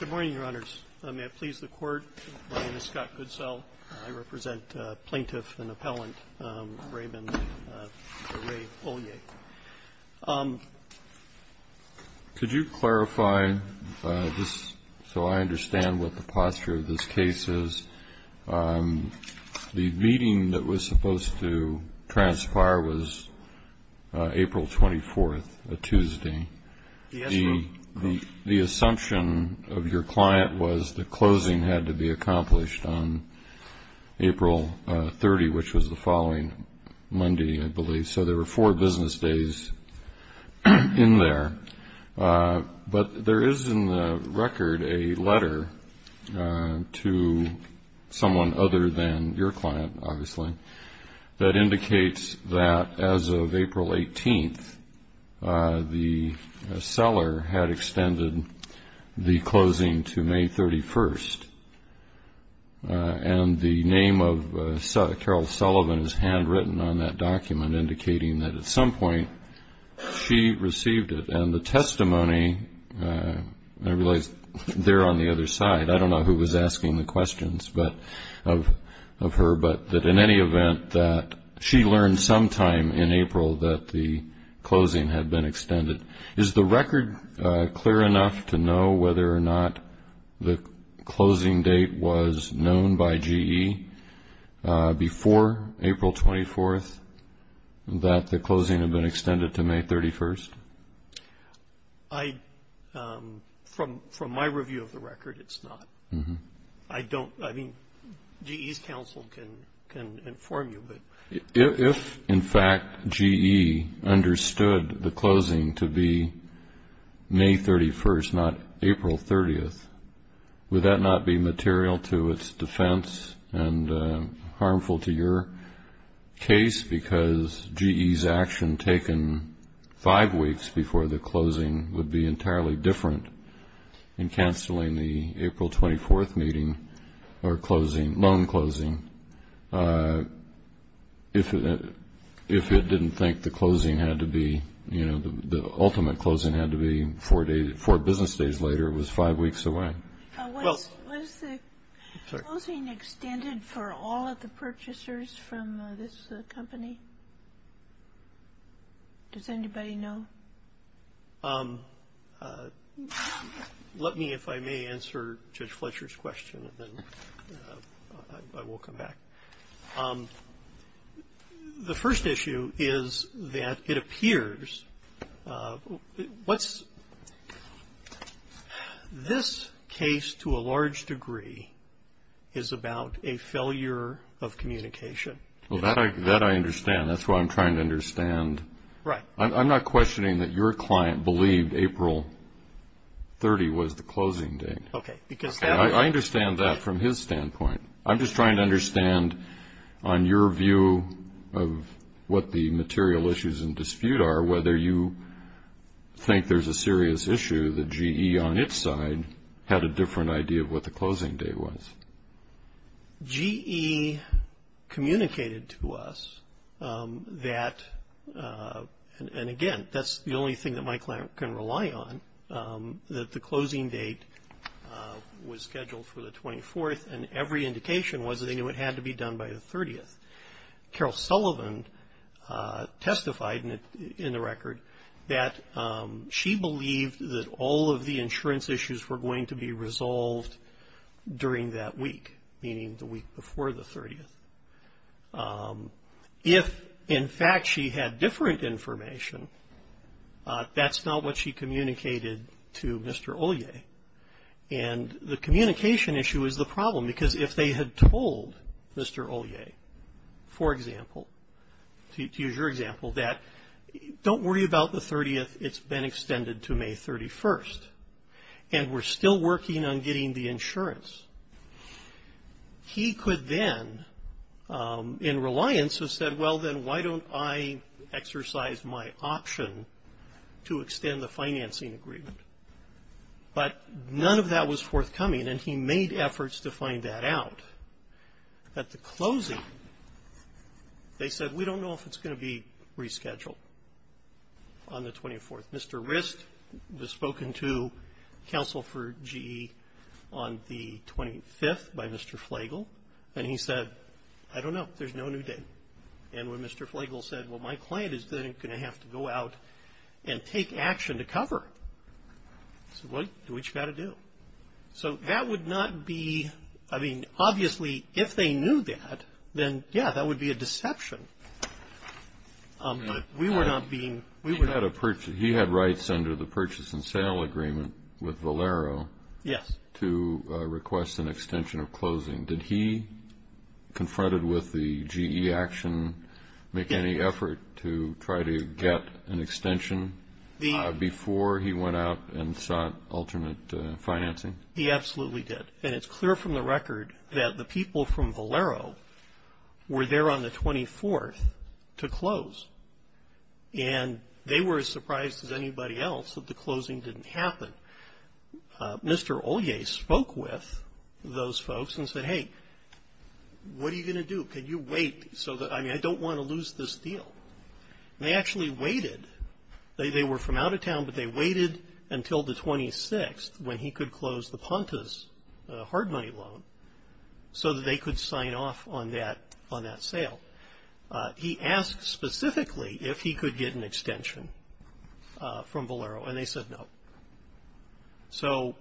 Good morning, Your Honors. May I please the Court? My name is Scott Goodsell. I represent plaintiff and appellant Raymond Olyaie. Could you clarify, just so I understand what the posture of this case is? The meeting that was supposed to transpire was April 24th, a Tuesday. The assumption of your client was the closing had to be accomplished on April 30, which was the following Monday, I believe. So there were four business days in there. But there is in the record a letter to someone other than your client, obviously, that indicates that as of April 18th, the seller had extended the closing to May 31st. And the name of Carol Sullivan is handwritten on that document, indicating that at some point she received it. And the testimony, I realize there on the other side, I don't know who was asking the questions of her, but that in any event that she learned sometime in April that the closing had been extended. Is the record clear enough to know whether or not the closing date was known by GE before April 24th, that the closing had been extended to May 31st? From my review of the record, it's not. I mean, GE's counsel can inform you. If, in fact, GE understood the closing to be May 31st, not April 30th, would that not be material to its defense and harmful to your case because GE's action taken five weeks before the closing would be entirely different in canceling the April 24th meeting or closing, loan closing, if it didn't think the closing had to be, you know, the ultimate closing had to be four business days later. It was five weeks away. Was the closing extended for all of the purchasers from this company? Does anybody know? Let me, if I may, answer Judge Fletcher's question, and then I will come back. The first issue is that it appears what's this case to a large degree is about a failure of communication. Well, that I understand. That's what I'm trying to understand. Right. I'm not questioning that your client believed April 30th was the closing date. Okay. I understand that from his standpoint. I'm just trying to understand on your view of what the material issues in dispute are, whether you think there's a serious issue that GE on its side had a different idea of what the closing date was. GE communicated to us that, and again, that's the only thing that my client can rely on, that the closing date was scheduled for the 24th, and every indication was that they knew it had to be done by the 30th. Carol Sullivan testified in the record that she believed that all of the insurance issues were going to be resolved during that week, meaning the week before the 30th. If, in fact, she had different information, that's not what she communicated to Mr. Ollier, and the communication issue is the problem because if they had told Mr. Ollier, for example, to use your example, that don't worry about the 30th. It's been extended to May 31st, and we're still working on getting the insurance. He could then, in reliance, have said, well, then why don't I exercise my option to extend the financing agreement? But none of that was forthcoming, and he made efforts to find that out. At the closing, they said, we don't know if it's going to be rescheduled on the 24th. Mr. Rist was spoken to, counsel for GE, on the 25th by Mr. Flagle, and he said, I don't know. There's no new date. And when Mr. Flagle said, well, my client is then going to have to go out and take action to cover, he said, well, do what you've got to do. So that would not be – I mean, obviously, if they knew that, then, yeah, that would be a deception. But we were not being – He had rights under the purchase and sale agreement with Valero to request an extension of closing. Did he, confronted with the GE action, make any effort to try to get an extension before he went out and sought alternate financing? He absolutely did. And it's clear from the record that the people from Valero were there on the 24th to close. And they were as surprised as anybody else that the closing didn't happen. Mr. Ollier spoke with those folks and said, hey, what are you going to do? Can you wait so that – I mean, I don't want to lose this deal. And they actually waited. They were from out of town, but they waited until the 26th when he could close the Pontus hard money loan so that they could sign off on that sale. He asked specifically if he could get an extension from Valero, and they said no. So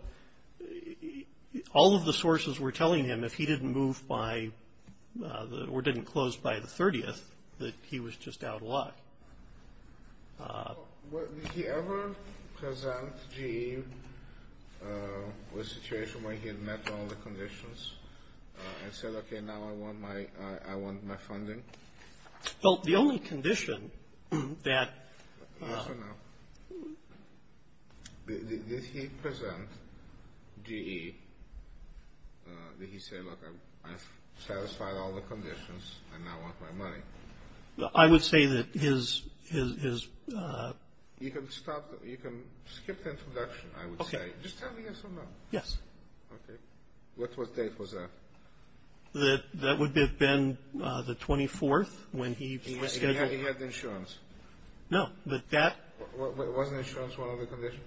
all of the sources were telling him if he didn't move by – or didn't close by the 30th, that he was just out of luck. Did he ever present GE with a situation where he had met all the conditions and said, okay, now I want my funding? Well, the only condition that – Yes or no? Did he present GE? Did he say, look, I've satisfied all the conditions and now I want my money? I would say that his – You can skip the introduction, I would say. Just tell me yes or no. Yes. Okay. What date was that? That would have been the 24th when he was scheduled. He had insurance? No, but that – Wasn't insurance one of the conditions?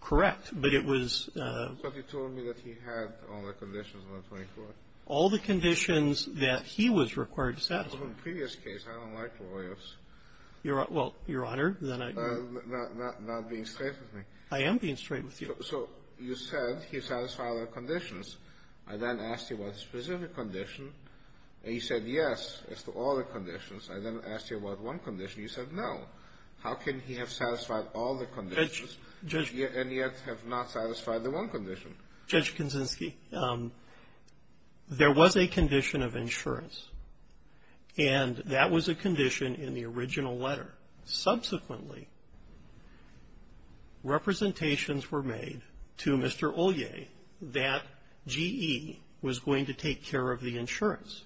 Correct, but it was – But you told me that he had all the conditions on the 24th. All the conditions that he was required to satisfy. Well, in the previous case, I don't like lawyers. Well, Your Honor, then I – Not being straight with me. I am being straight with you. So you said he satisfied all the conditions. I then asked you about a specific condition, and you said yes as to all the conditions. I then asked you about one condition. You said no. How can he have satisfied all the conditions and yet have not satisfied the one condition? Judge Kaczynski, there was a condition of insurance, and that was a condition in the original letter. Subsequently, representations were made to Mr. Ollier that GE was going to take care of the insurance.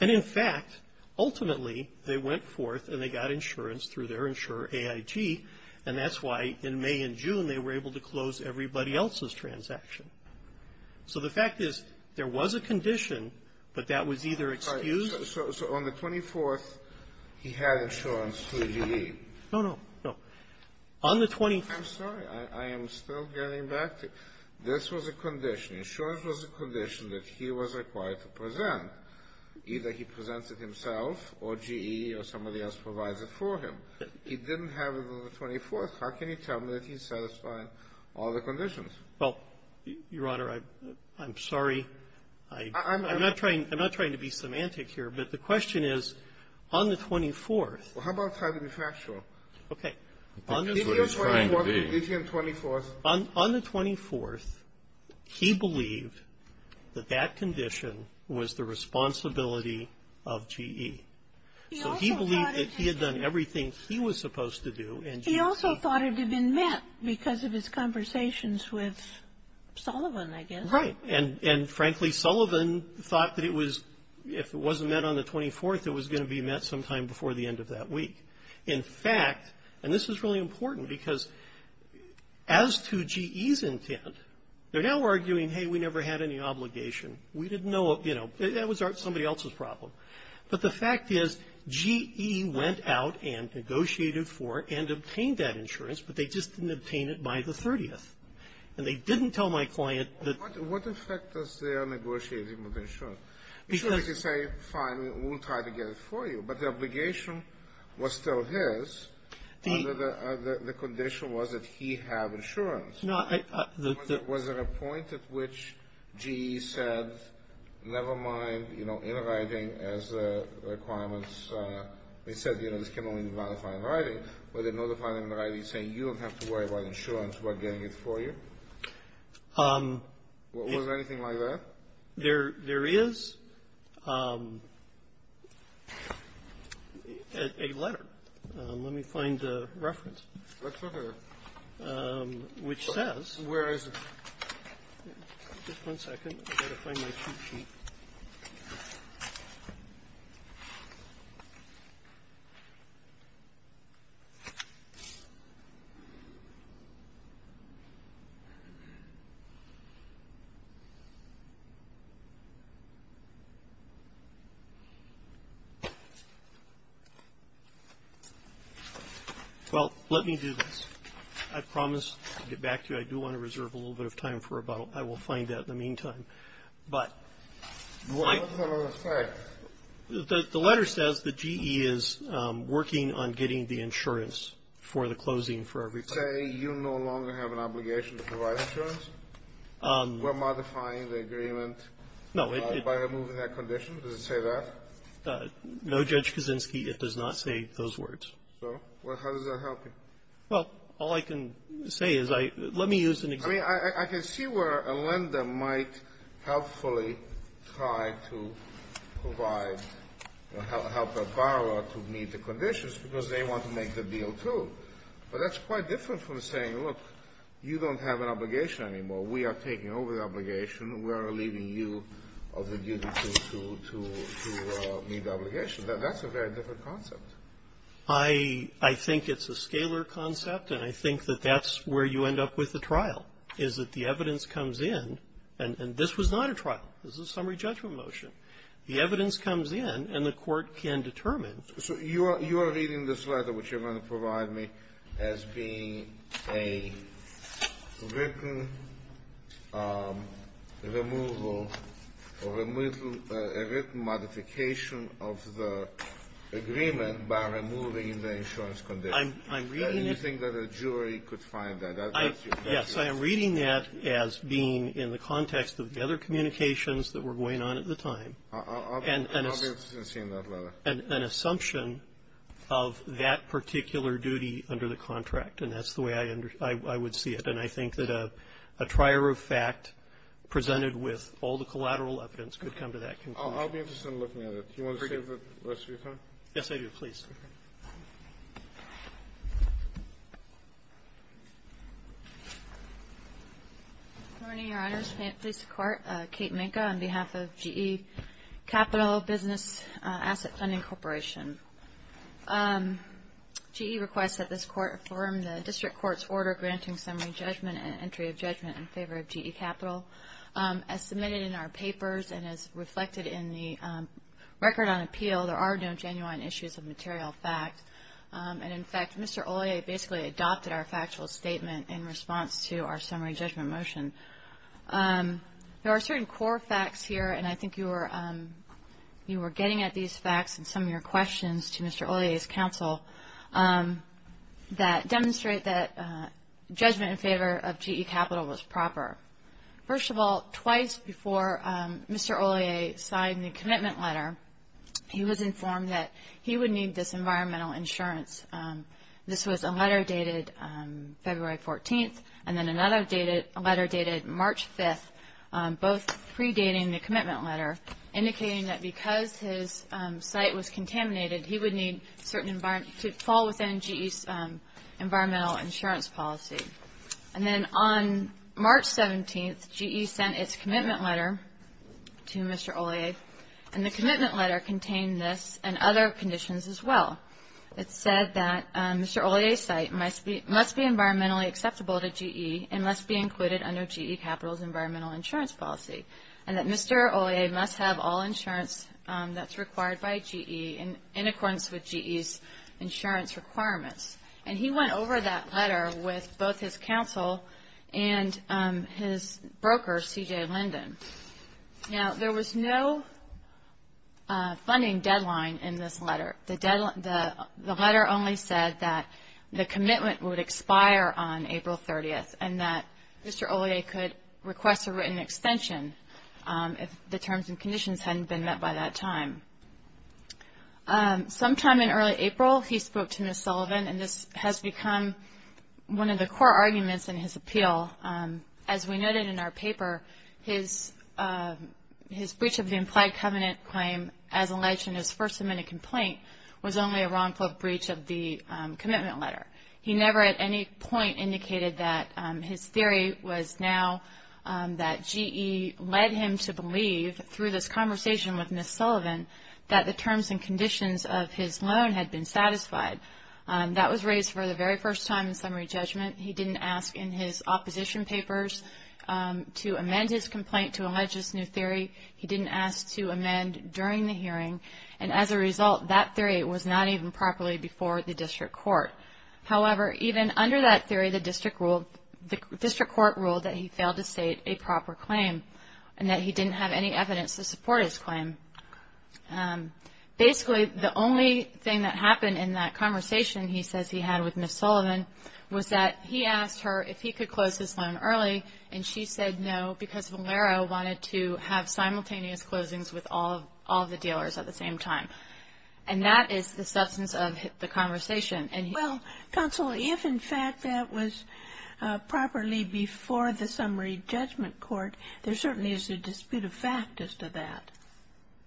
And in fact, ultimately, they went forth and they got insurance through their insurer AIG, and that's why in May and June they were able to close everybody else's transaction. So the fact is there was a condition, but that was either excused – No, no. No. On the 24th – I'm sorry. I am still getting back to you. This was a condition. Insurance was a condition that he was required to present. Either he presents it himself or GE or somebody else provides it for him. He didn't have it on the 24th. How can he tell me that he's satisfied all the conditions? Well, Your Honor, I'm sorry. I'm not trying to be semantic here, but the question is, on the 24th – Well, how about trying to be factual? Okay. On the 24th, he believed that that condition was the responsibility of GE. So he believed that he had done everything he was supposed to do and GE – He also thought it had been met because of his conversations with Sullivan, I guess. Right. And frankly, Sullivan thought that if it wasn't met on the 24th, it was going to be met sometime before the end of that week. In fact – and this is really important because as to GE's intent, they're now arguing, hey, we never had any obligation. We didn't know – you know, that was somebody else's problem. But the fact is, GE went out and negotiated for and obtained that insurance, but they just didn't obtain it by the 30th. And they didn't tell my client that – What effect does their negotiating with insurance? Sure, they could say, fine, we'll try to get it for you, but the obligation was still his under the condition was that he have insurance. Was there a point at which GE said, never mind, you know, in writing as requirements – they said, you know, this can only be ratified in writing, but they notified him in writing saying, you don't have to worry about insurance, we're getting it for you? Was there anything like that? There is a letter. Let me find the reference. Let's look at it. Which says – Where is it? Well, let me do this. I promise to get back to you. I do want to reserve a little bit of time for about – I will find that in the meantime. But – What does the letter say? The letter says that GE is working on getting the insurance for the closing for every – Say you no longer have an obligation to provide insurance? We're modifying the agreement by removing that condition? Does it say that? No, Judge Kaczynski, it does not say those words. So how does that help you? Well, all I can say is I – let me use an example. I mean, I can see where a lender might helpfully try to provide – help a borrower to meet the conditions because they want to make the deal, too. But that's quite different from saying, look, you don't have an obligation anymore. We are taking over the obligation. We are leaving you of the duty to meet the obligation. That's a very different concept. I think it's a scalar concept, and I think that that's where you end up with the trial, is that the evidence comes in. And this was not a trial. This is a summary judgment motion. The evidence comes in, and the court can determine. So you are reading this letter, which you're going to provide me, as being a written removal or a written modification of the agreement by removing the insurance condition. I'm reading it. Do you think that a jury could find that? Yes, I am reading that as being in the context of the other communications that were going on at the time. I'll be interested in seeing that letter. It's an assumption of that particular duty under the contract, and that's the way I would see it. And I think that a trier of fact presented with all the collateral evidence could come to that conclusion. I'll be interested in looking at it. Do you want to save the rest of your time? Yes, I do. Please. Good morning, Your Honors. May it please the Court. Kate Minka on behalf of GE Capital Business Asset Funding Corporation. GE requests that this Court affirm the District Court's order granting summary judgment and entry of judgment in favor of GE Capital. As submitted in our papers and as reflected in the record on appeal, there are no genuine issues of material fact. And, in fact, Mr. Ollier basically adopted our factual statement in response to our summary judgment motion. There are certain core facts here, and I think you were getting at these facts in some of your questions to Mr. Ollier's counsel, that demonstrate that judgment in favor of GE Capital was proper. First of all, twice before Mr. Ollier signed the commitment letter, he was informed that he would need this environmental insurance. This was a letter dated February 14th, and then another letter dated March 5th, both pre-dating the commitment letter, indicating that because his site was contaminated, he would need to fall within GE's environmental insurance policy. And then on March 17th, GE sent its commitment letter to Mr. Ollier, and the commitment letter contained this and other conditions as well. It said that Mr. Ollier's site must be environmentally acceptable to GE and must be included under GE Capital's environmental insurance policy, and that Mr. Ollier must have all insurance that's required by GE in accordance with GE's insurance requirements. And he went over that letter with both his counsel and his broker, C.J. Linden. Now, there was no funding deadline in this letter. The letter only said that the commitment would expire on April 30th and that Mr. Ollier could request a written extension if the terms and conditions hadn't been met by that time. Sometime in early April, he spoke to Ms. Sullivan, and this has become one of the core arguments in his appeal. As we noted in our paper, his breach of the implied covenant claim as alleged in his first submitted complaint was only a wrongful breach of the commitment letter. He never at any point indicated that his theory was now that GE led him to believe, through this conversation with Ms. Sullivan, that the terms and conditions of his loan had been satisfied. That was raised for the very first time in summary judgment. He didn't ask in his opposition papers to amend his complaint to allege this new theory. He didn't ask to amend during the hearing, and as a result that theory was not even properly before the district court. However, even under that theory, the district court ruled that he failed to state a proper claim and that he didn't have any evidence to support his claim. Basically, the only thing that happened in that conversation he says he had with Ms. Sullivan was that he asked her if he could close his loan early, and she said no because Valero wanted to have simultaneous closings with all the dealers at the same time. And that is the substance of the conversation. Well, counsel, if in fact that was properly before the summary judgment court, there certainly is a dispute of fact as to that.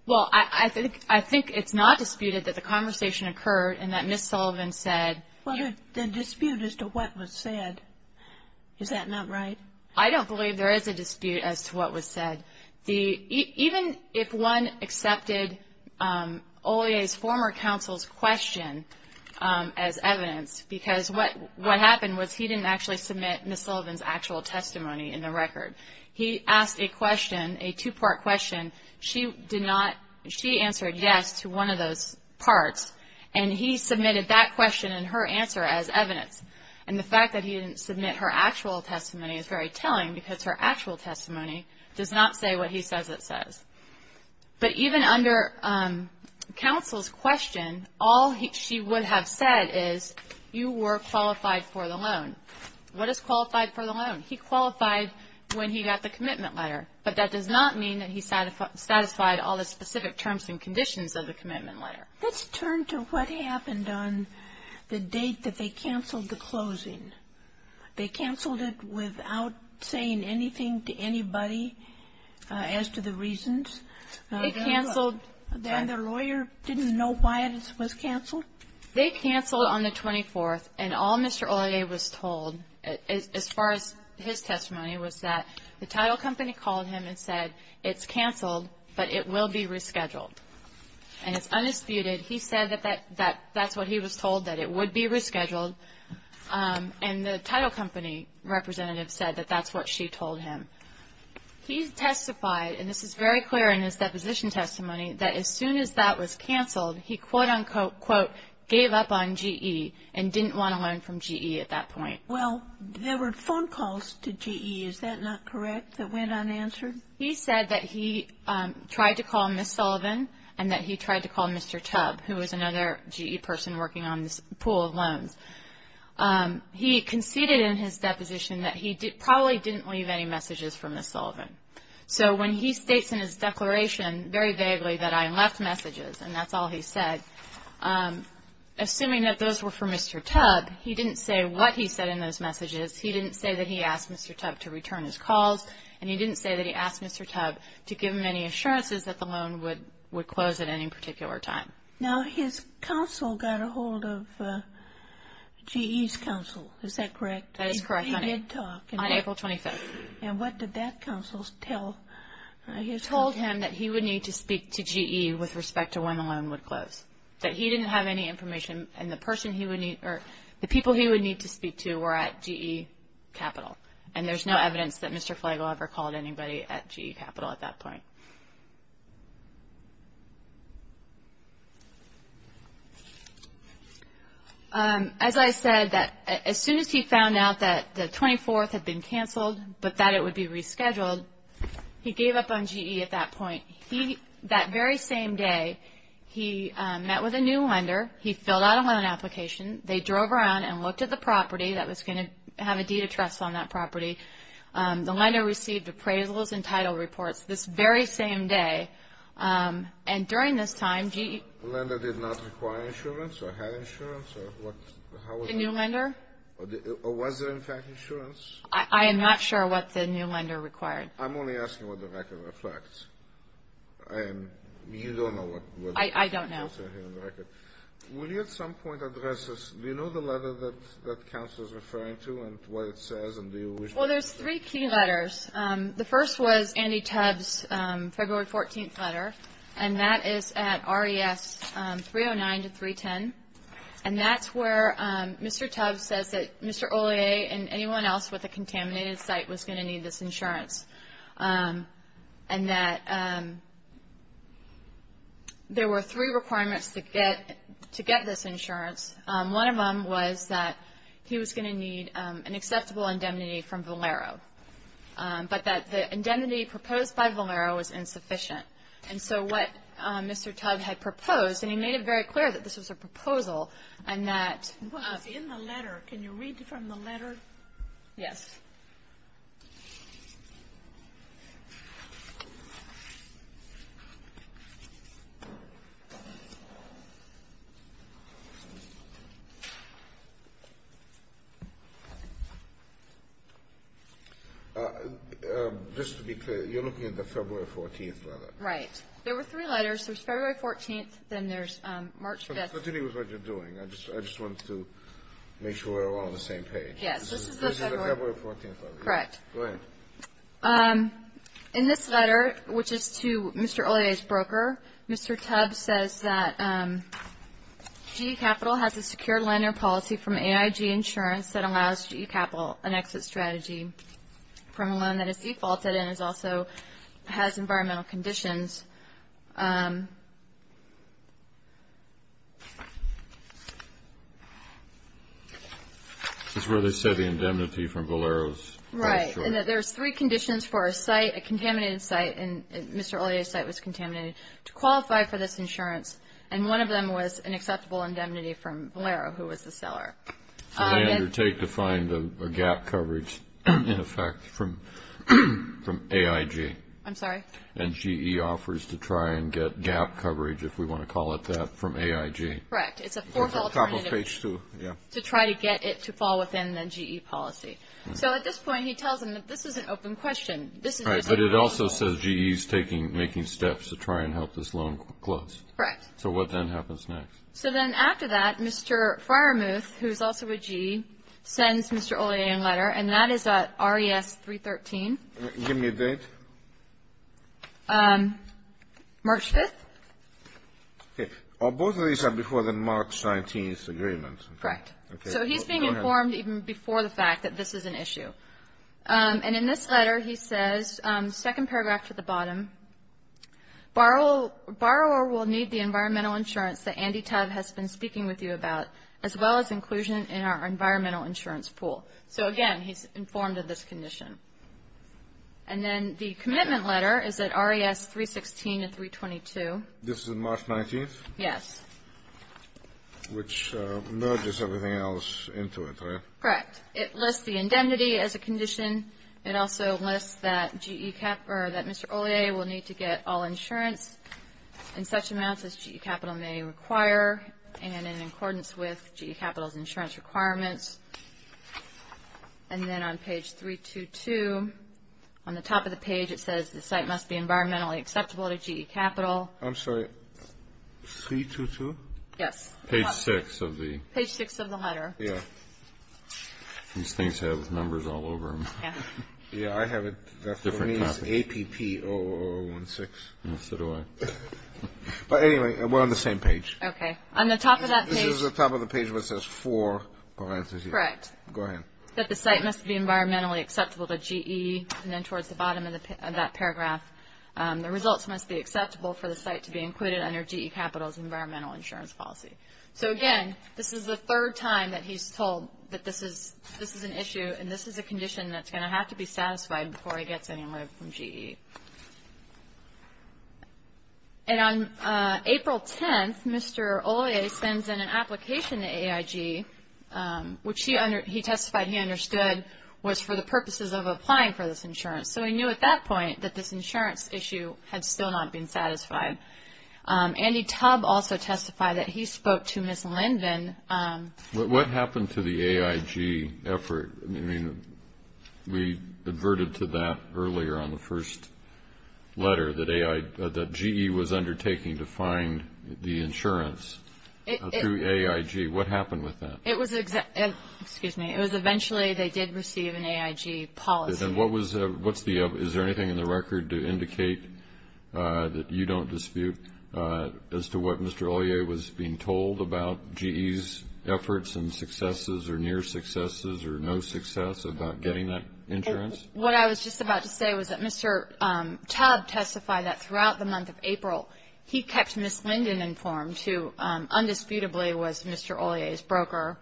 Well, I think it's not disputed that the conversation occurred and that Ms. Sullivan said Well, the dispute as to what was said, is that not right? I don't believe there is a dispute as to what was said. Even if one accepted Ollier's former counsel's question as evidence, because what happened was he didn't actually submit Ms. Sullivan's actual testimony in the record. He asked a question, a two-part question. She answered yes to one of those parts, and he submitted that question and her answer as evidence. And the fact that he didn't submit her actual testimony is very telling because her actual testimony does not say what he says it says. But even under counsel's question, all she would have said is you were qualified for the loan. What is qualified for the loan? He qualified when he got the commitment letter, but that does not mean that he satisfied all the specific terms and conditions of the commitment letter. Let's turn to what happened on the date that they canceled the closing. They canceled it without saying anything to anybody as to the reasons. They canceled. And the lawyer didn't know why it was canceled? They canceled on the 24th, and all Mr. Ollier was told, as far as his testimony, was that the title company called him and said it's canceled, but it will be rescheduled. And it's undisputed. He said that that's what he was told, that it would be rescheduled. And the title company representative said that that's what she told him. He testified, and this is very clear in his deposition testimony, that as soon as that was canceled, he, quote, unquote, quote, gave up on GE and didn't want a loan from GE at that point. Well, there were phone calls to GE. Is that not correct, that went unanswered? He said that he tried to call Ms. Sullivan and that he tried to call Mr. Tubb, who was another GE person working on this pool of loans. He conceded in his deposition that he probably didn't leave any messages for Ms. Sullivan. So when he states in his declaration, very vaguely, that I left messages and that's all he said, assuming that those were for Mr. Tubb, he didn't say what he said in those messages, he didn't say that he asked Mr. Tubb to return his calls, and he didn't say that he asked Mr. Tubb to give him any assurances that the loan would close at any particular time. Now, his counsel got a hold of GE's counsel. Is that correct? That is correct, honey. He did talk. On April 25th. And what did that counsel tell his counsel? He told him that he would need to speak to GE with respect to when the loan would close, that he didn't have any information and the person he would need or the people he would need to speak to were at GE Capital. And there's no evidence that Mr. Flagel ever called anybody at GE Capital at that point. As I said, as soon as he found out that the 24th had been canceled, but that it would be rescheduled, he gave up on GE at that point. That very same day, he met with a new lender, he filled out a loan application, they drove around and looked at the property that was going to have a deed of trust on that property. The lender received appraisals and title reports this very same day. And during this time, GE – The lender did not require insurance or had insurance? The new lender? Or was there, in fact, insurance? I am not sure what the new lender required. I'm only asking what the record reflects. You don't know what – I don't know. Will you at some point address this? Do you know the letter that Council is referring to and what it says? Well, there's three key letters. The first was Andy Tubbs' February 14th letter, and that is at RES 309 to 310. And that's where Mr. Tubbs says that Mr. Ollier and anyone else with a contaminated site was going to need this insurance. And that there were three requirements to get this insurance. One of them was that he was going to need an acceptable indemnity from Valero, but that the indemnity proposed by Valero was insufficient. And so what Mr. Tubbs had proposed, and he made it very clear that this was a proposal and that – It was in the letter. Can you read from the letter? Yes. Okay. Just to be clear, you're looking at the February 14th letter? Right. There were three letters. There's February 14th, then there's March 5th. So tell me what you're doing. I just wanted to make sure we're all on the same page. Yes. This is the February 14th letter. Correct. Go ahead. In this letter, which is to Mr. Ollier's broker, Mr. Tubbs says that GE Capital has a secure lender policy from AIG Insurance that allows GE Capital an exit strategy from a loan that is defaulted and also has environmental conditions. This is where they said the indemnity from Valero's insurer. Right. And that there's three conditions for a site, a contaminated site, and Mr. Ollier's site was contaminated, to qualify for this insurance. And one of them was an acceptable indemnity from Valero, who was the seller. So they undertake to find a gap coverage, in effect, from AIG. I'm sorry? And GE offers a gap coverage. It offers to try and get gap coverage, if we want to call it that, from AIG. Correct. It's a fourth alternative to try to get it to fall within the GE policy. So at this point, he tells them that this is an open question. But it also says GE is making steps to try and help this loan close. Correct. So what then happens next? So then after that, Mr. Fryermuth, who is also a GE, sends Mr. Ollier a letter, and that is an RES 313. Give me a date. March 5th. Okay. Both of these are before the March 19th agreement. Correct. So he's being informed even before the fact that this is an issue. And in this letter, he says, second paragraph to the bottom, borrower will need the environmental insurance that Andy Tubb has been speaking with you about, as well as inclusion in our environmental insurance pool. So, again, he's informed of this condition. And then the commitment letter is at RES 316 and 322. This is March 19th? Yes. Which merges everything else into it, right? Correct. It lists the indemnity as a condition. It also lists that Mr. Ollier will need to get all insurance in such amounts as GE Capital may require and in accordance with GE Capital's insurance requirements. And then on page 322, on the top of the page, it says the site must be environmentally acceptable to GE Capital. I'm sorry, 322? Yes. Page 6 of the. Page 6 of the letter. Yeah. These things have numbers all over them. Yeah. Yeah, I have it. That's what it means, APP0016. So do I. But, anyway, we're on the same page. Okay. On the top of that page. This is the top of the page where it says for parenthesis. Correct. Go ahead. That the site must be environmentally acceptable to GE. And then towards the bottom of that paragraph, the results must be acceptable for the site to be included under GE Capital's environmental insurance policy. So, again, this is the third time that he's told that this is an issue and this is a condition that's going to have to be satisfied before he gets any money from GE. And on April 10th, Mr. Olia sends in an application to AIG, which he testified he understood, was for the purposes of applying for this insurance. So he knew at that point that this insurance issue had still not been satisfied. Andy Tubb also testified that he spoke to Ms. Linden. What happened to the AIG effort? We adverted to that earlier on the first letter that GE was undertaking to find the insurance through AIG. What happened with that? It was eventually they did receive an AIG policy. Is there anything in the record to indicate that you don't dispute as to what Mr. Olia was being told about GE's efforts and successes or near successes or no success about getting that insurance? What I was just about to say was that Mr. Tubb testified that throughout the month of April, he kept Ms. Linden informed, who undisputably was Mr. Olia's broker,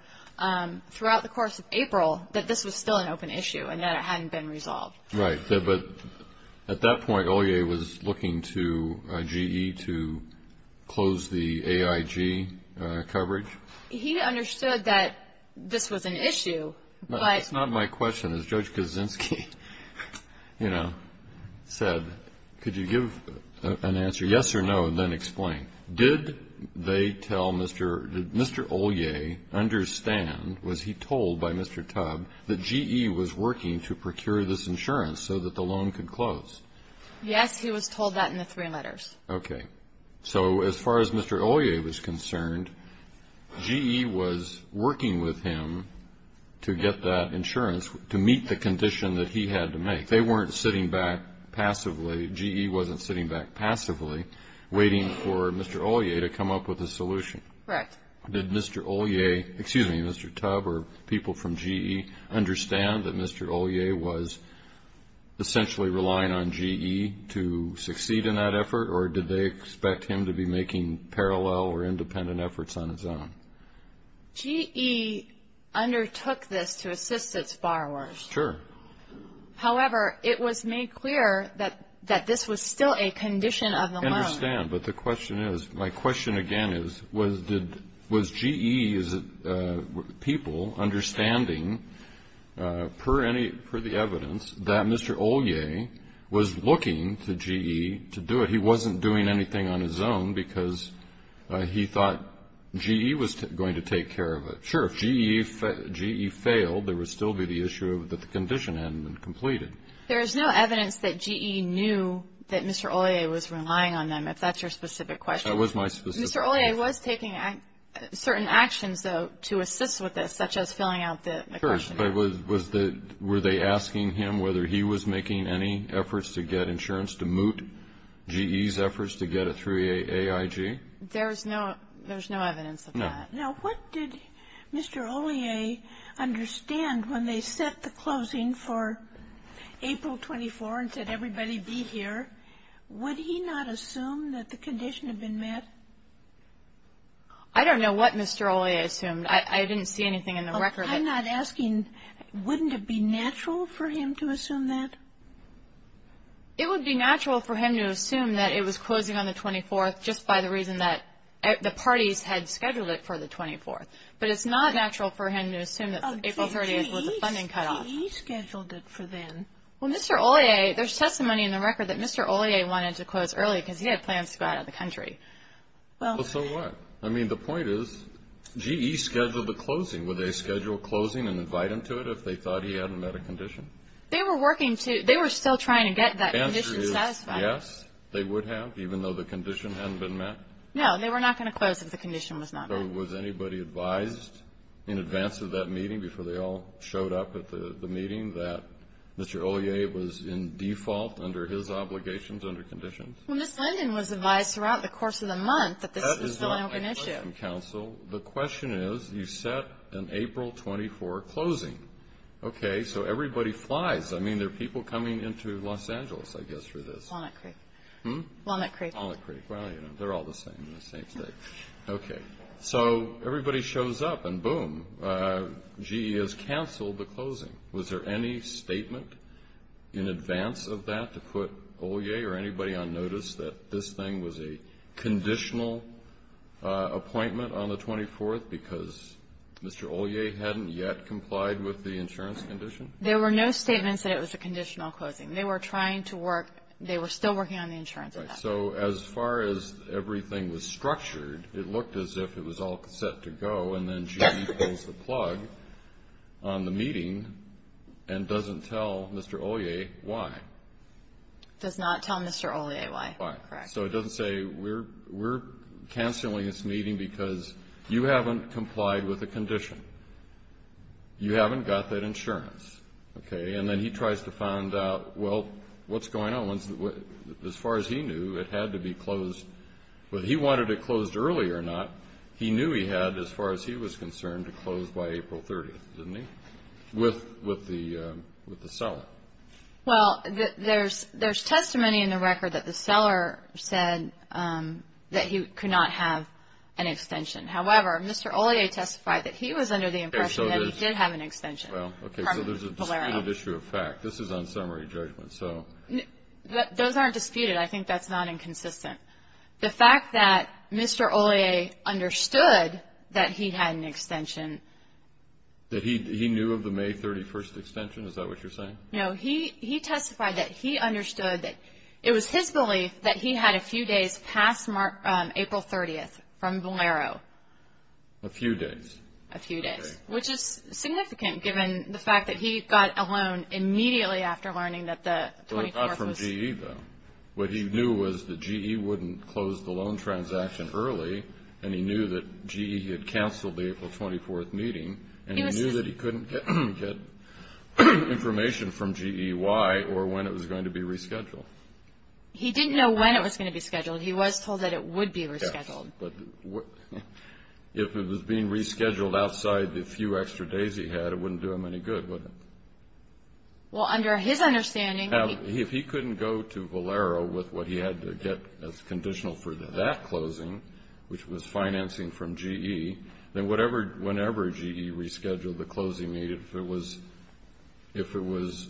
throughout the course of April that this was still an open issue and that it hadn't been resolved. Right. But at that point, Olia was looking to GE to close the AIG coverage? He understood that this was an issue. That's not my question. As Judge Kaczynski, you know, said, could you give an answer, yes or no, and then explain. Did they tell Mr. Olia, understand, was he told by Mr. Tubb, that GE was working to procure this insurance so that the loan could close? Yes, he was told that in the three letters. Okay. So as far as Mr. Olia was concerned, GE was working with him to get that insurance to meet the condition that he had to make. They weren't sitting back passively, GE wasn't sitting back passively waiting for Mr. Olia to come up with a solution. Right. Did Mr. Olia, excuse me, Mr. Tubb or people from GE, understand that Mr. Olia was essentially relying on GE to succeed in that effort or did they expect him to be making parallel or independent efforts on his own? GE undertook this to assist its borrowers. Sure. However, it was made clear that this was still a condition of the loan. I understand, but the question is, my question again is, was GE's people understanding, per the evidence, that Mr. Olia was looking to GE to do it? He wasn't doing anything on his own because he thought GE was going to take care of it. Sure, if GE failed, there would still be the issue that the condition hadn't been completed. There is no evidence that GE knew that Mr. Olia was relying on them, if that's your specific question. That was my specific question. Mr. Olia was taking certain actions, though, to assist with this, such as filling out the question. Were they asking him whether he was making any efforts to get insurance to moot GE's efforts to get a 3A AIG? There's no evidence of that. No. Now, what did Mr. Olia understand when they set the closing for April 24 and said, everybody be here, would he not assume that the condition had been met? I don't know what Mr. Olia assumed. I didn't see anything in the record. I'm not asking, wouldn't it be natural for him to assume that? It would be natural for him to assume that it was closing on the 24th just by the reason that the parties had scheduled it for the 24th. But it's not natural for him to assume that April 30th was a funding cutoff. GE scheduled it for then. Well, Mr. Olia, there's testimony in the record that Mr. Olia wanted to close early because he had plans to go out of the country. Well, so what? I mean, the point is GE scheduled the closing. Would they schedule closing and invite him to it if they thought he hadn't met a condition? They were working to – they were still trying to get that condition satisfied. The answer is yes, they would have, even though the condition hadn't been met? No, they were not going to close if the condition was not met. So was anybody advised in advance of that meeting, before they all showed up at the meeting, that Mr. Olia was in default under his obligations under conditions? Well, Ms. Linden was advised throughout the course of the month that this was still an open issue. That is not my question, counsel. The question is you set an April 24 closing. Okay, so everybody flies. I mean, there are people coming into Los Angeles, I guess, for this. Walnut Creek. Hmm? Walnut Creek. Walnut Creek. Well, you know, they're all the same in the same state. Okay. So everybody shows up, and boom, GE has canceled the closing. Was there any statement in advance of that to put Olia or anybody on notice that this thing was a conditional appointment on the 24th because Mr. Olia hadn't yet complied with the insurance condition? There were no statements that it was a conditional closing. They were trying to work – they were still working on the insurance. Right. So as far as everything was structured, it looked as if it was all set to go, and then GE pulls the plug on the meeting and doesn't tell Mr. Olia why. Does not tell Mr. Olia why. Why. Correct. So it doesn't say we're canceling this meeting because you haven't complied with the condition. You haven't got that insurance. Okay, and then he tries to find out, well, what's going on? As far as he knew, it had to be closed. Whether he wanted it closed early or not, he knew he had, as far as he was concerned, to close by April 30th, didn't he, with the seller? Well, there's testimony in the record that the seller said that he could not have an extension. However, Mr. Olia testified that he was under the impression that he did have an extension. Okay, so there's a disputed issue of fact. This is on summary judgment. Those aren't disputed. I think that's not inconsistent. The fact that Mr. Olia understood that he had an extension. That he knew of the May 31st extension, is that what you're saying? No, he testified that he understood that it was his belief that he had a few days past April 30th from Valero. A few days. A few days, which is significant given the fact that he got a loan immediately after learning that the 24th was... That he wouldn't close the loan transaction early, and he knew that GE had canceled the April 24th meeting. And he knew that he couldn't get information from GE why or when it was going to be rescheduled. He didn't know when it was going to be scheduled. He was told that it would be rescheduled. But if it was being rescheduled outside the few extra days he had, it wouldn't do him any good, would it? Well, under his understanding... If it was conditional for that closing, which was financing from GE, then whenever GE rescheduled the closing meeting, if it was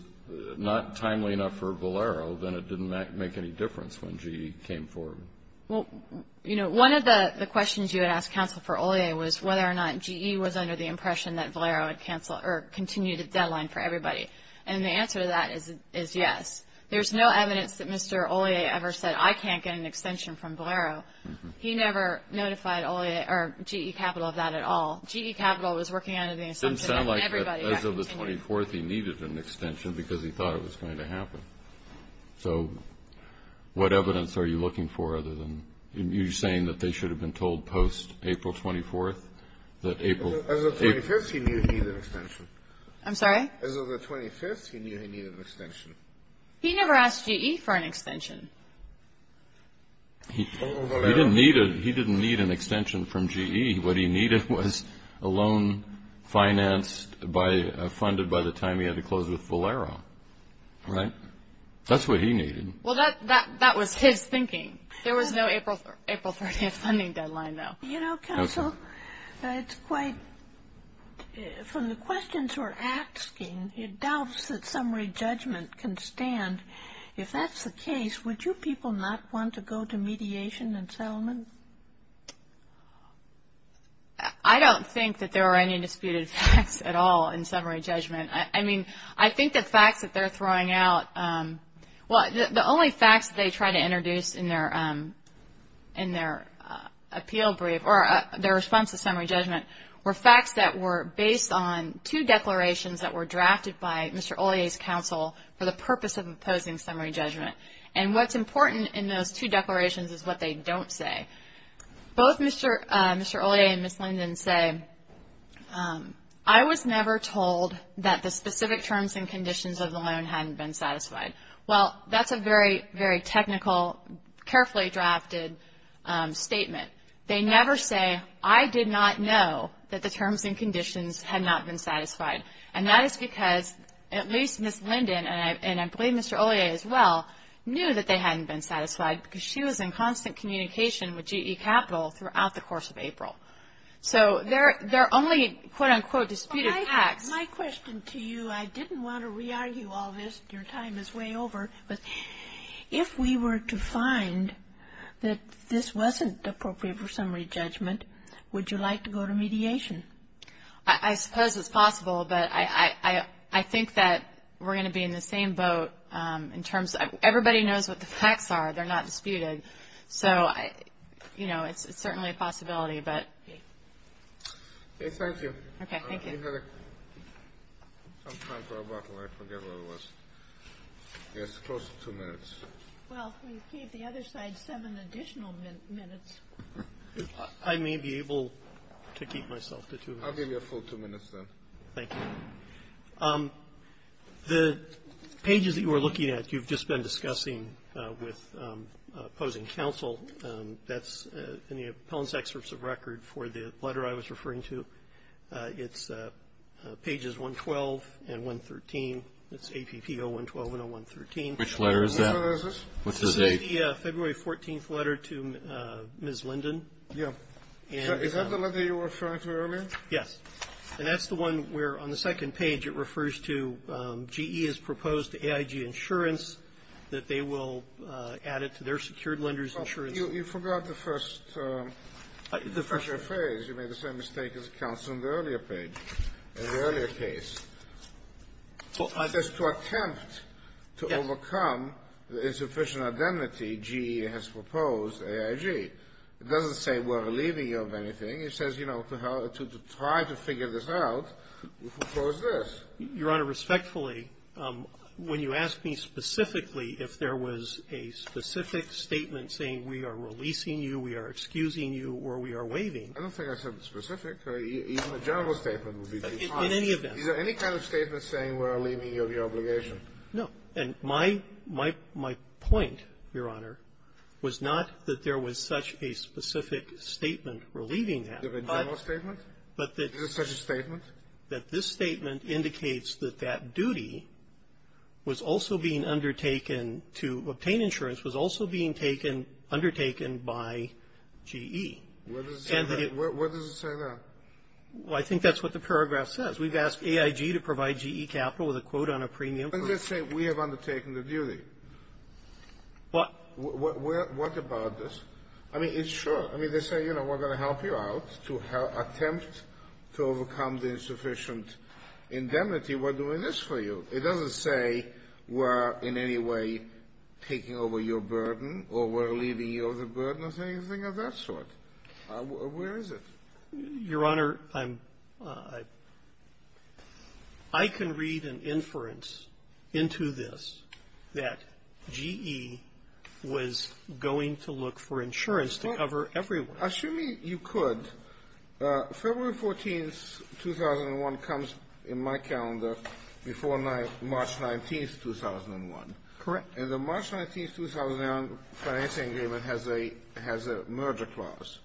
not timely enough for Valero, then it didn't make any difference when GE came forward. Well, you know, one of the questions you had asked counsel for Olia was whether or not GE was under the impression that Valero had continued a deadline for everybody. And the answer to that is yes. There's no evidence that Mr. Olia ever said, I can't get an extension from Valero. He never notified Olia or GE Capital of that at all. GE Capital was working under the assumption that everybody... It doesn't sound like as of the 24th he needed an extension because he thought it was going to happen. So what evidence are you looking for other than you're saying that they should have been told post-April 24th that April... As of the 25th, he knew he needed an extension. I'm sorry? As of the 25th, he knew he needed an extension. He never asked GE for an extension. He didn't need an extension from GE. What he needed was a loan financed by, funded by the time he had to close with Valero, right? That's what he needed. Well, that was his thinking. There was no April 30th funding deadline, though. You know, Counsel, it's quite, from the questions we're asking, it doubts that summary judgment can stand. If that's the case, would you people not want to go to mediation and settlement? I don't think that there are any disputed facts at all in summary judgment. I mean, I think the facts that they're throwing out... or their response to summary judgment were facts that were based on two declarations that were drafted by Mr. Ollier's counsel for the purpose of imposing summary judgment. And what's important in those two declarations is what they don't say. Both Mr. Ollier and Ms. Linden say, I was never told that the specific terms and conditions of the loan hadn't been satisfied. Well, that's a very, very technical, carefully drafted statement. They never say, I did not know that the terms and conditions had not been satisfied. And that is because at least Ms. Linden, and I believe Mr. Ollier as well, knew that they hadn't been satisfied because she was in constant communication with GE Capital throughout the course of April. So there are only, quote, unquote, disputed facts. My question to you, I didn't want to re-argue all this. Your time is way over. If we were to find that this wasn't appropriate for summary judgment, would you like to go to mediation? I suppose it's possible, but I think that we're going to be in the same boat in terms of everybody knows what the facts are. They're not disputed. So, you know, it's certainly a possibility, but... Thank you. Okay. Thank you. We have some time for a bottle. I forget what it was. Yes, close to two minutes. Well, we gave the other side seven additional minutes. I may be able to keep myself to two minutes. I'll give you a full two minutes then. Thank you. The pages that you were looking at you've just been discussing with opposing counsel. That's in the appellant's excerpts of record for the letter I was referring to. It's pages 112 and 113. It's APP 0112 and 0113. Which letter is that? This is the February 14th letter to Ms. Linden. Yeah. Is that the letter you were referring to earlier? Yes. And that's the one where on the second page it refers to GE has proposed to AIG Insurance that they will add it to their secured lender's insurance. You forgot the first phrase. You made the same mistake as counsel in the earlier page, in the earlier case. It says to attempt to overcome the insufficient identity, GE has proposed AIG. It doesn't say we're relieving you of anything. It says, you know, to try to figure this out, we propose this. Your Honor, respectfully, when you ask me specifically if there was a specific statement saying we are releasing you, we are excusing you, or we are waiving. I don't think I said specific. Even a general statement would be too harsh. In any event. Is there any kind of statement saying we're relieving you of your obligation? No. And my point, Your Honor, was not that there was such a specific statement relieving that. Is there a general statement? Is there such a statement? That this statement indicates that that duty was also being undertaken to obtain insurance was also being undertaken by GE. What does it say there? Well, I think that's what the paragraph says. We've asked AIG to provide GE capital with a quote on a premium. Let's say we have undertaken the duty. What? What about this? I mean, it's sure. I mean, they say, you know, we're going to help you out to attempt to overcome the insufficient indemnity. We're doing this for you. It doesn't say we're in any way taking over your burden or we're relieving you of the burden or anything of that sort. Where is it? Your Honor, I can read an inference into this that GE was going to look for insurance to cover everyone. Assuming you could. Your Honor, February 14th, 2001 comes in my calendar before March 19th, 2001. Correct. And the March 19th, 2001 financing agreement has a merger clause.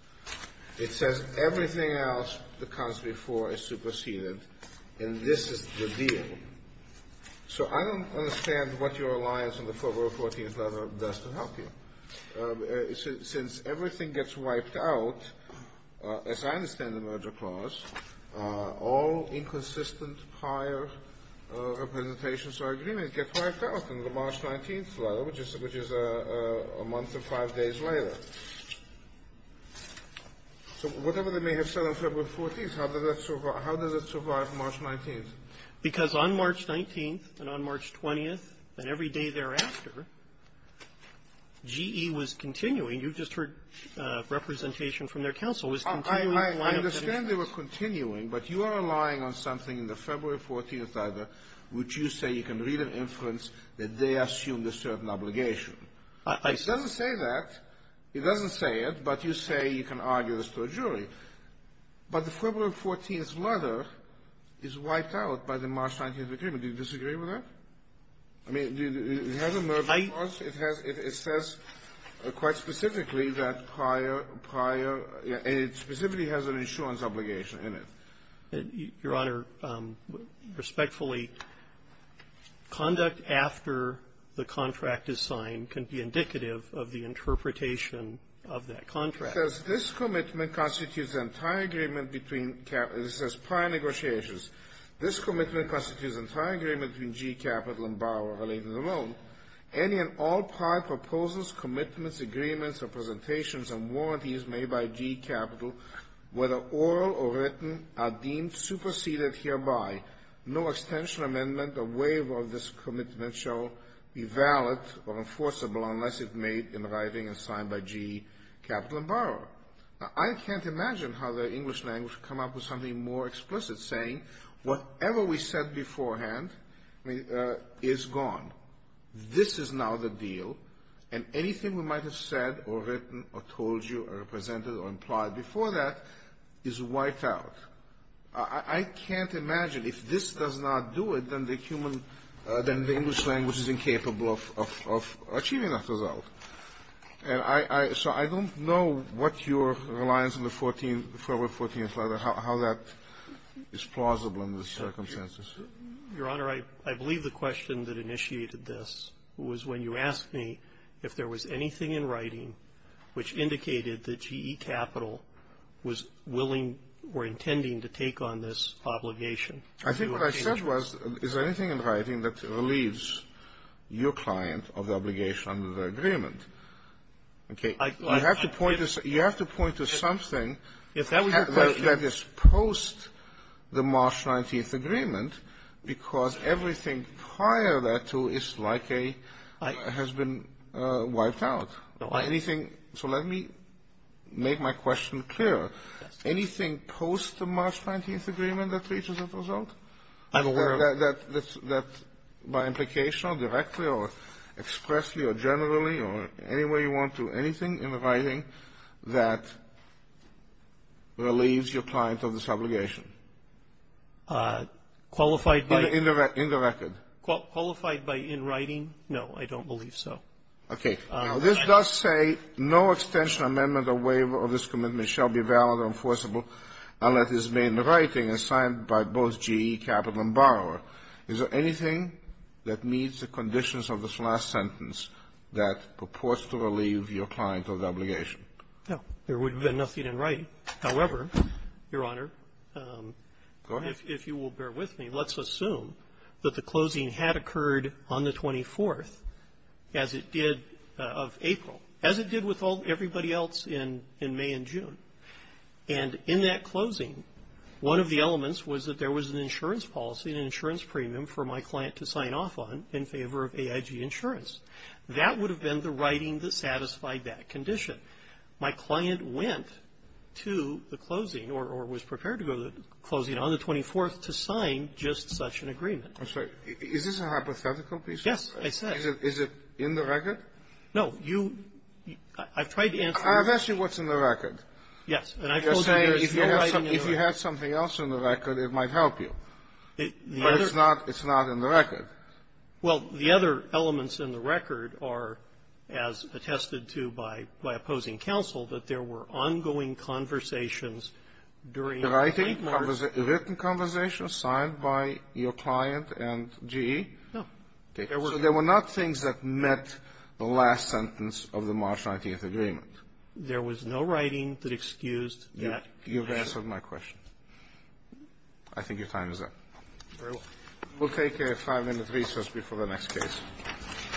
It says everything else that comes before is superseded, and this is the deal. So I don't understand what your alliance on the February 14th letter does to help you. Since everything gets wiped out, as I understand the merger clause, all inconsistent prior representations or agreements get wiped out in the March 19th letter, which is a month and five days later. So whatever they may have said on February 14th, how does it survive March 19th? Because on March 19th and on March 20th and every day thereafter, GE was continuing you just heard representation from their counsel. I understand they were continuing, but you are relying on something in the February 14th letter which you say you can read an inference that they assumed a certain obligation. It doesn't say that. It doesn't say it, but you say you can argue this to a jury. But the February 14th letter is wiped out by the March 19th agreement. Do you disagree with that? I mean, it has a merger clause. It has – it says quite specifically that prior – prior – it specifically has an insurance obligation in it. Your Honor, respectfully, conduct after the contract is signed can be indicative of the interpretation of that contract. It says this commitment constitutes an entire agreement between – it says prior negotiations. This commitment constitutes an entire agreement between GE Capital and Bauer related alone. Any and all prior proposals, commitments, agreements, representations, and warranties made by GE Capital, whether oral or written, are deemed superseded hereby. No extension amendment or waiver of this commitment shall be valid or enforceable unless it made in writing and signed by GE Capital and Bauer. I can't imagine how the English language would come up with something more explicit saying whatever we said beforehand is gone. This is now the deal, and anything we might have said or written or told you or represented or implied before that is wiped out. I can't imagine if this does not do it, then the human – then the English language is incapable of achieving that result. And I – so I don't know what your reliance on the 14th, the February 14th letter, how that is plausible under the circumstances. Your Honor, I believe the question that initiated this was when you asked me if there was anything in writing which indicated that GE Capital was willing or intending to take on this obligation. I think what I said was, is there anything in writing that relieves your client of the obligation under the agreement? Okay. You have to point to – you have to point to something that is post the March 19th agreement, because everything prior thereto is like a – has been wiped out. Anything – so let me make my question clear. Anything post the March 19th agreement that reaches that result? I'm aware of it. That – that by implication or directly or expressly or generally or any way you want to, anything in writing that relieves your client of this obligation? Qualified by – In the record. Qualified by in writing? No, I don't believe so. Okay. Now, this does say, no extension, amendment or waiver of this commitment shall be valid or enforceable unless it's made in writing and signed by both GE Capital and borrower. Is there anything that meets the conditions of this last sentence that purports to relieve your client of the obligation? No. There would have been nothing in writing. However, Your Honor, if you will bear with me, let's assume that the closing had occurred on the 24th as it did of April, as it did with everybody else in May and June. And in that closing, one of the elements was that there was an insurance policy, an insurance premium for my client to sign off on in favor of AIG Insurance. That would have been the writing that satisfied that condition. My client went to the closing or was prepared to go to the closing on the 24th to sign just such an agreement. I'm sorry. Is this a hypothetical piece? Yes, I said. Is it in the record? No. You – I've tried to answer your question. I've asked you what's in the record. Yes. You're saying if you had something else in the record, it might help you. The other – But it's not in the record. Well, the other elements in the record are, as attested to by opposing counsel, that there were ongoing conversations during the framework. Was it a written conversation signed by your client and GE? No. Okay. So there were not things that met the last sentence of the March 19th agreement. There was no writing that excused that condition. You've answered my question. I think your time is up. Very well. We'll take a five-minute recess before the next case.